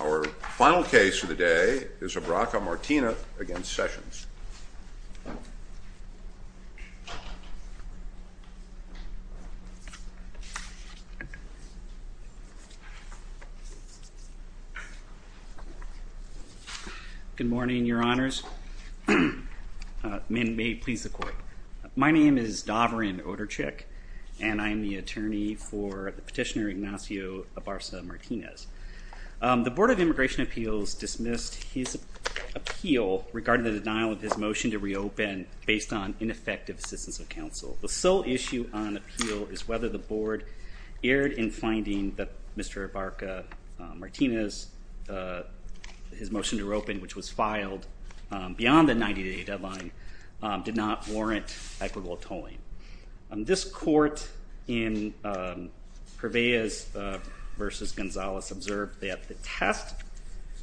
Our final case for the day is Abarca-Martinez v. Sessions. Good morning, Your Honors. May it please the Court. My name is Dovrin Oderchik, and I am the attorney for Petitioner Ignacio Abarca-Martinez. The Board of Immigration Appeals dismissed his appeal regarding the denial of his motion to reopen based on ineffective assistance of counsel. The sole issue on appeal is whether the Board erred in finding that Mr. Abarca-Martinez's motion to reopen, which was filed beyond the 90-day deadline, did not warrant equitable tolling. This Court in Cervellas v. Gonzalez observed that the test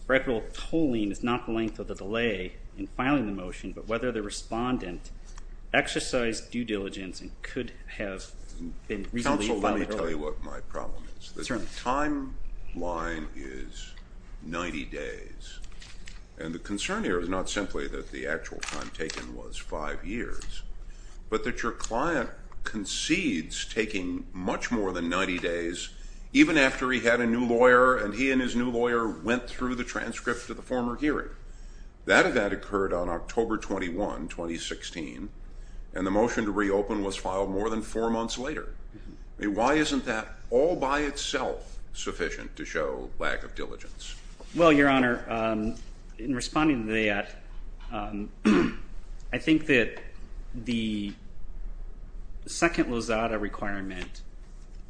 for equitable tolling is not the length of the delay in filing the motion, but whether the respondent exercised due diligence and could have been reasonably filed early. I'll tell you what my problem is. The timeline is 90 days. And the concern here is not simply that the actual time taken was five years, but that your client concedes taking much more than 90 days even after he had a new lawyer and he and his new lawyer went through the transcript of the former hearing. That event occurred on October 21, 2016, and the motion to reopen was filed more than four months later. Why isn't that all by itself sufficient to show lack of diligence? Well, Your Honor, in responding to that, I think that the second Lozada requirement,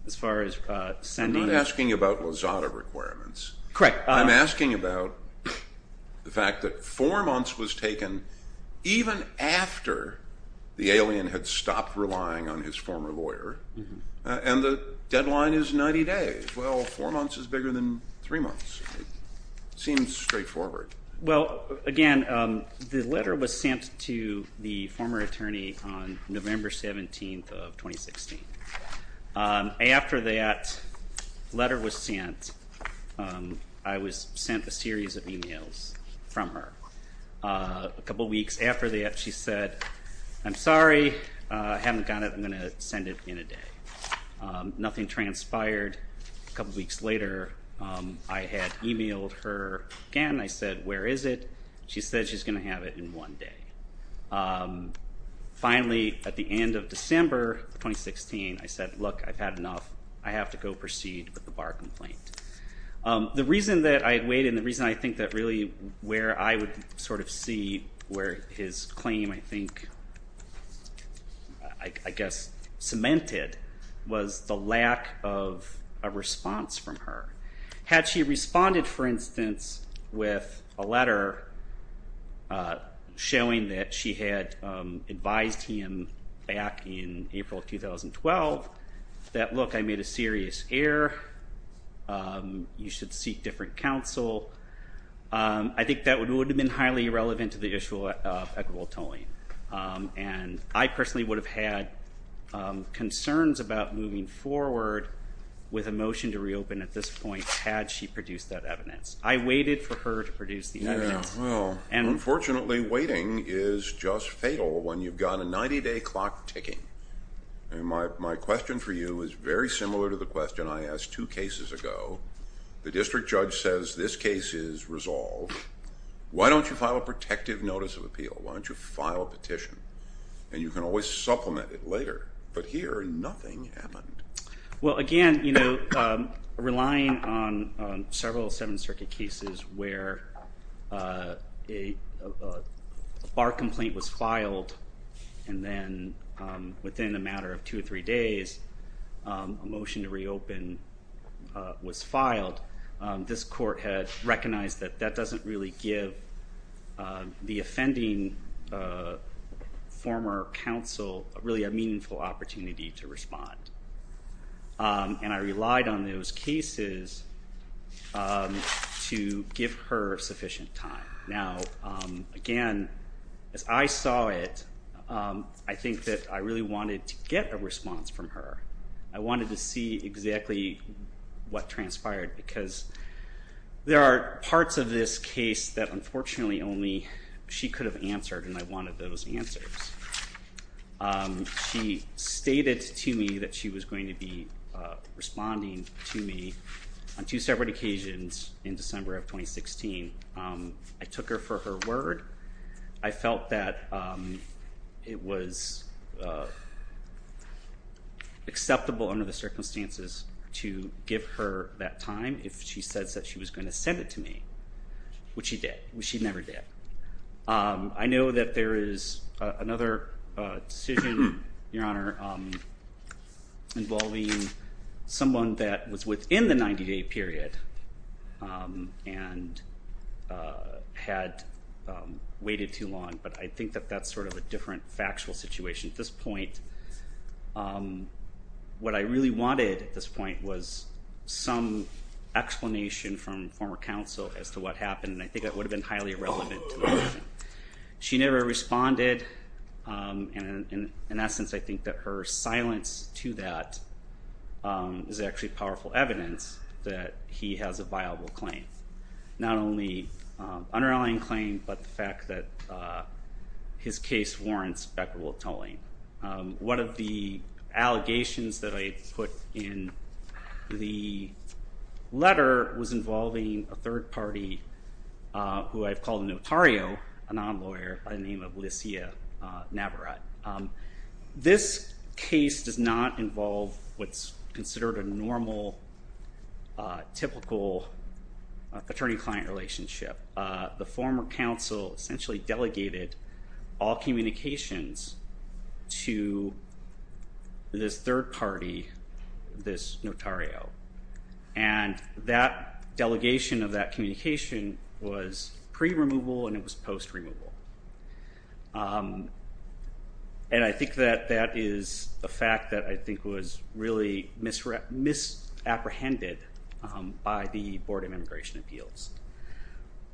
as far as sending— I'm not asking about Lozada requirements. Correct. I'm asking about the fact that four months was taken even after the alien had stopped relying on his former lawyer, and the deadline is 90 days. Well, four months is bigger than three months. It seems straightforward. Well, again, the letter was sent to the former attorney on November 17 of 2016. After that letter was sent, I was sent a series of emails from her. A couple weeks after that, she said, I'm sorry, I haven't got it. I'm going to send it in a day. Nothing transpired. A couple weeks later, I had emailed her again. I said, where is it? She said she's going to have it in one day. Finally, at the end of December 2016, I said, look, I've had enough. I have to go proceed with the bar complaint. The reason that I waited and the reason I think that really where I would sort of see where his claim, I think, I guess, cemented was the lack of a response from her. Had she responded, for instance, with a letter showing that she had advised him back in April 2012 that, look, I made a serious error, you should seek different counsel, I think that would have been highly irrelevant to the issue of equitable tolling. I personally would have had concerns about moving forward with a motion to reopen at this point had she produced that evidence. I waited for her to produce the evidence. Unfortunately, waiting is just fatal when you've got a 90-day clock ticking. My question for you is very similar to the question I asked two cases ago. The district judge says this case is resolved. Why don't you file a protective notice of appeal? Why don't you file a petition? And you can always supplement it later. But here, nothing happened. Well, again, relying on several Seventh Circuit cases where a bar complaint was filed and then within a matter of two or three days a motion to reopen was filed, this court had recognized that that doesn't really give the offending former counsel really a meaningful opportunity to respond. And I relied on those cases to give her sufficient time. Now, again, as I saw it, I think that I really wanted to get a response from her. I wanted to see exactly what transpired because there are parts of this case that unfortunately only she could have answered, and I wanted those answers. She stated to me that she was going to be responding to me on two separate occasions in December of 2016. I took her for her word. I felt that it was acceptable under the circumstances to give her that time if she said that she was going to send it to me, which she did. She never did. I know that there is another decision, Your Honor, involving someone that was within the 90-day period and had waited too long, but I think that that's sort of a different factual situation. At this point, what I really wanted at this point was some explanation from former counsel as to what happened, and I think that would have been highly irrelevant to the question. She never responded, and in essence I think that her silence to that is actually powerful evidence that he has a viable claim. Not only an underlying claim, but the fact that his case warrants equitable tolling. One of the allegations that I put in the letter was involving a third party who I've called a notario, a non-lawyer by the name of Licia Navarrete. This case does not involve what's considered a normal, typical attorney-client relationship. The former counsel essentially delegated all communications to this third party, this notario, and that delegation of that communication was pre-removal and it was post-removal. And I think that that is the fact that I think was really misapprehended by the Board of Immigration Appeals.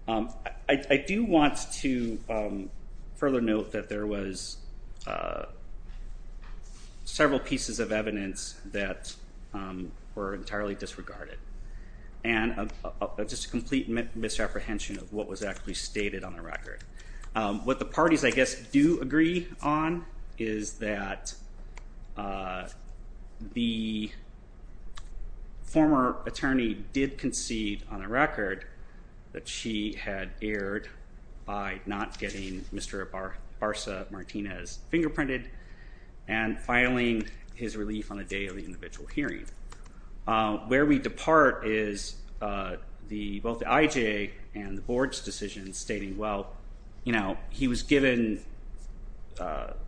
I do want to further note that there was several pieces of evidence that were entirely disregarded, and just a complete misapprehension of what was actually stated on the record. What the parties, I guess, do agree on is that the former attorney did concede on a record that she had erred by not getting Mr. Barca-Martinez fingerprinted and filing his relief on the day of the individual hearing. Where we depart is both the IJA and the Board's decision stating, well, you know, he was given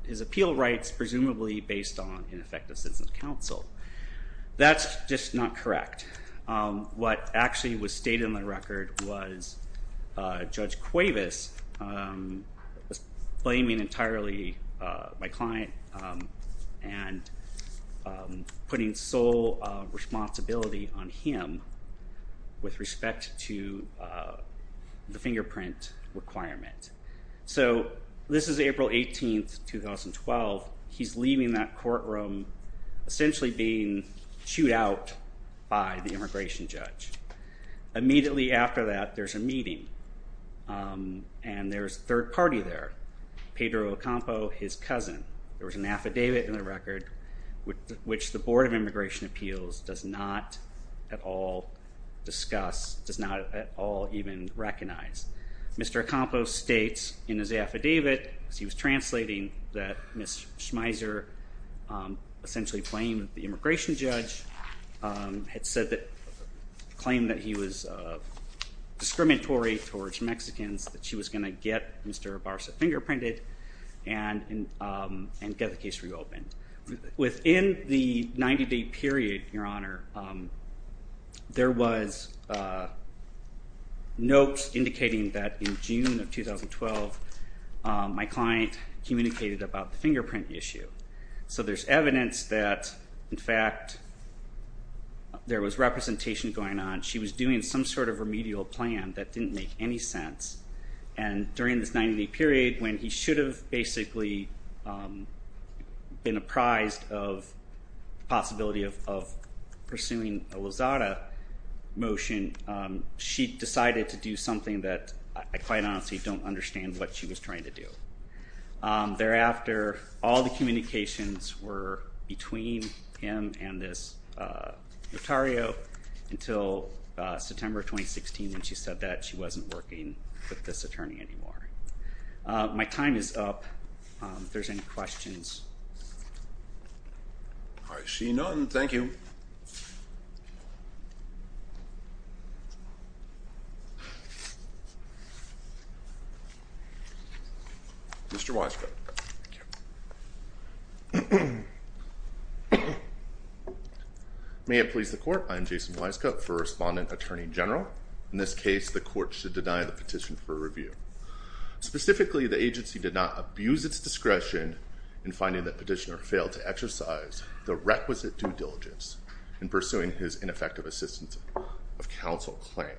his appeal rights presumably based on ineffective citizen counsel. That's just not correct. What actually was stated on the record was Judge Cuevas blaming entirely my client and putting sole responsibility on him with respect to the fingerprint requirement. So this is April 18, 2012. He's leaving that courtroom essentially being chewed out by the immigration judge. Immediately after that, there's a meeting and there's a third party there, Pedro Ocampo, his cousin. There was an affidavit in the record which the Board of Immigration Appeals does not at all discuss, does not at all even recognize. Mr. Ocampo states in his affidavit, as he was translating, that Ms. Schmeiser essentially claimed the immigration judge had said that, claimed that he was discriminatory towards Mexicans, that she was going to get Mr. Barsa fingerprinted and get the case reopened. Within the 90-day period, Your Honor, there was notes indicating that in June of 2012, my client communicated about the fingerprint issue. So there's evidence that, in fact, there was representation going on. She was doing some sort of remedial plan that didn't make any sense. And during this 90-day period, when he should have basically been apprised of the possibility of pursuing a Lozada motion, she decided to do something that I quite honestly don't understand what she was trying to do. Thereafter, all the communications were between him and this notario until September of 2016 when she said that she wasn't working with this attorney anymore. My time is up. If there's any questions. All right. Seeing none, thank you. Mr. Wisecutt. Thank you. May it please the court, I am Jason Wisecutt for Respondent Attorney General. In this case, the court should deny the petition for review. Specifically, the agency did not abuse its discretion in finding that Petitioner failed to exercise the requisite due diligence in pursuing his ineffective assistance of counsel claim.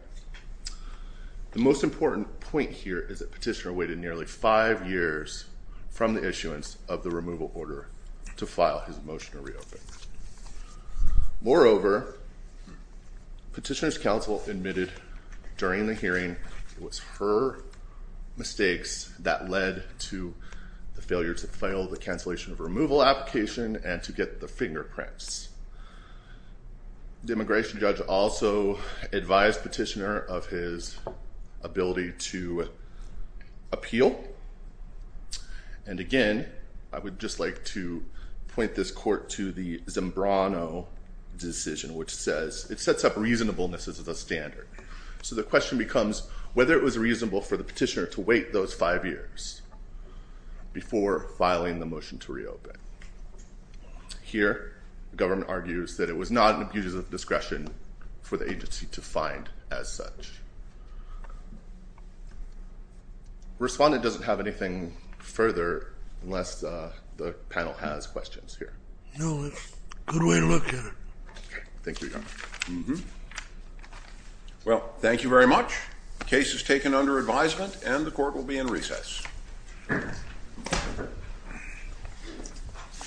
The most important point here is that Petitioner waited nearly five years from the issuance of the removal order to file his motion to reopen. Moreover, Petitioner's counsel admitted during the hearing it was her mistakes that led to the failure to file the cancellation of removal application and to get the finger prints. The immigration judge also advised Petitioner of his ability to appeal. And again, I would just like to point this court to the Zambrano decision, which says it sets up reasonableness as a standard. So the question becomes whether it was reasonable for the petitioner to wait those five years before filing the motion to reopen. Here, the government argues that it was not an abuse of discretion for the agency to find as such. Respondent doesn't have anything further unless the panel has questions here. No, it's a good way to look at it. Thank you, Your Honor. Well, thank you very much. The case is taken under advisement and the court will be in recess. Thank you.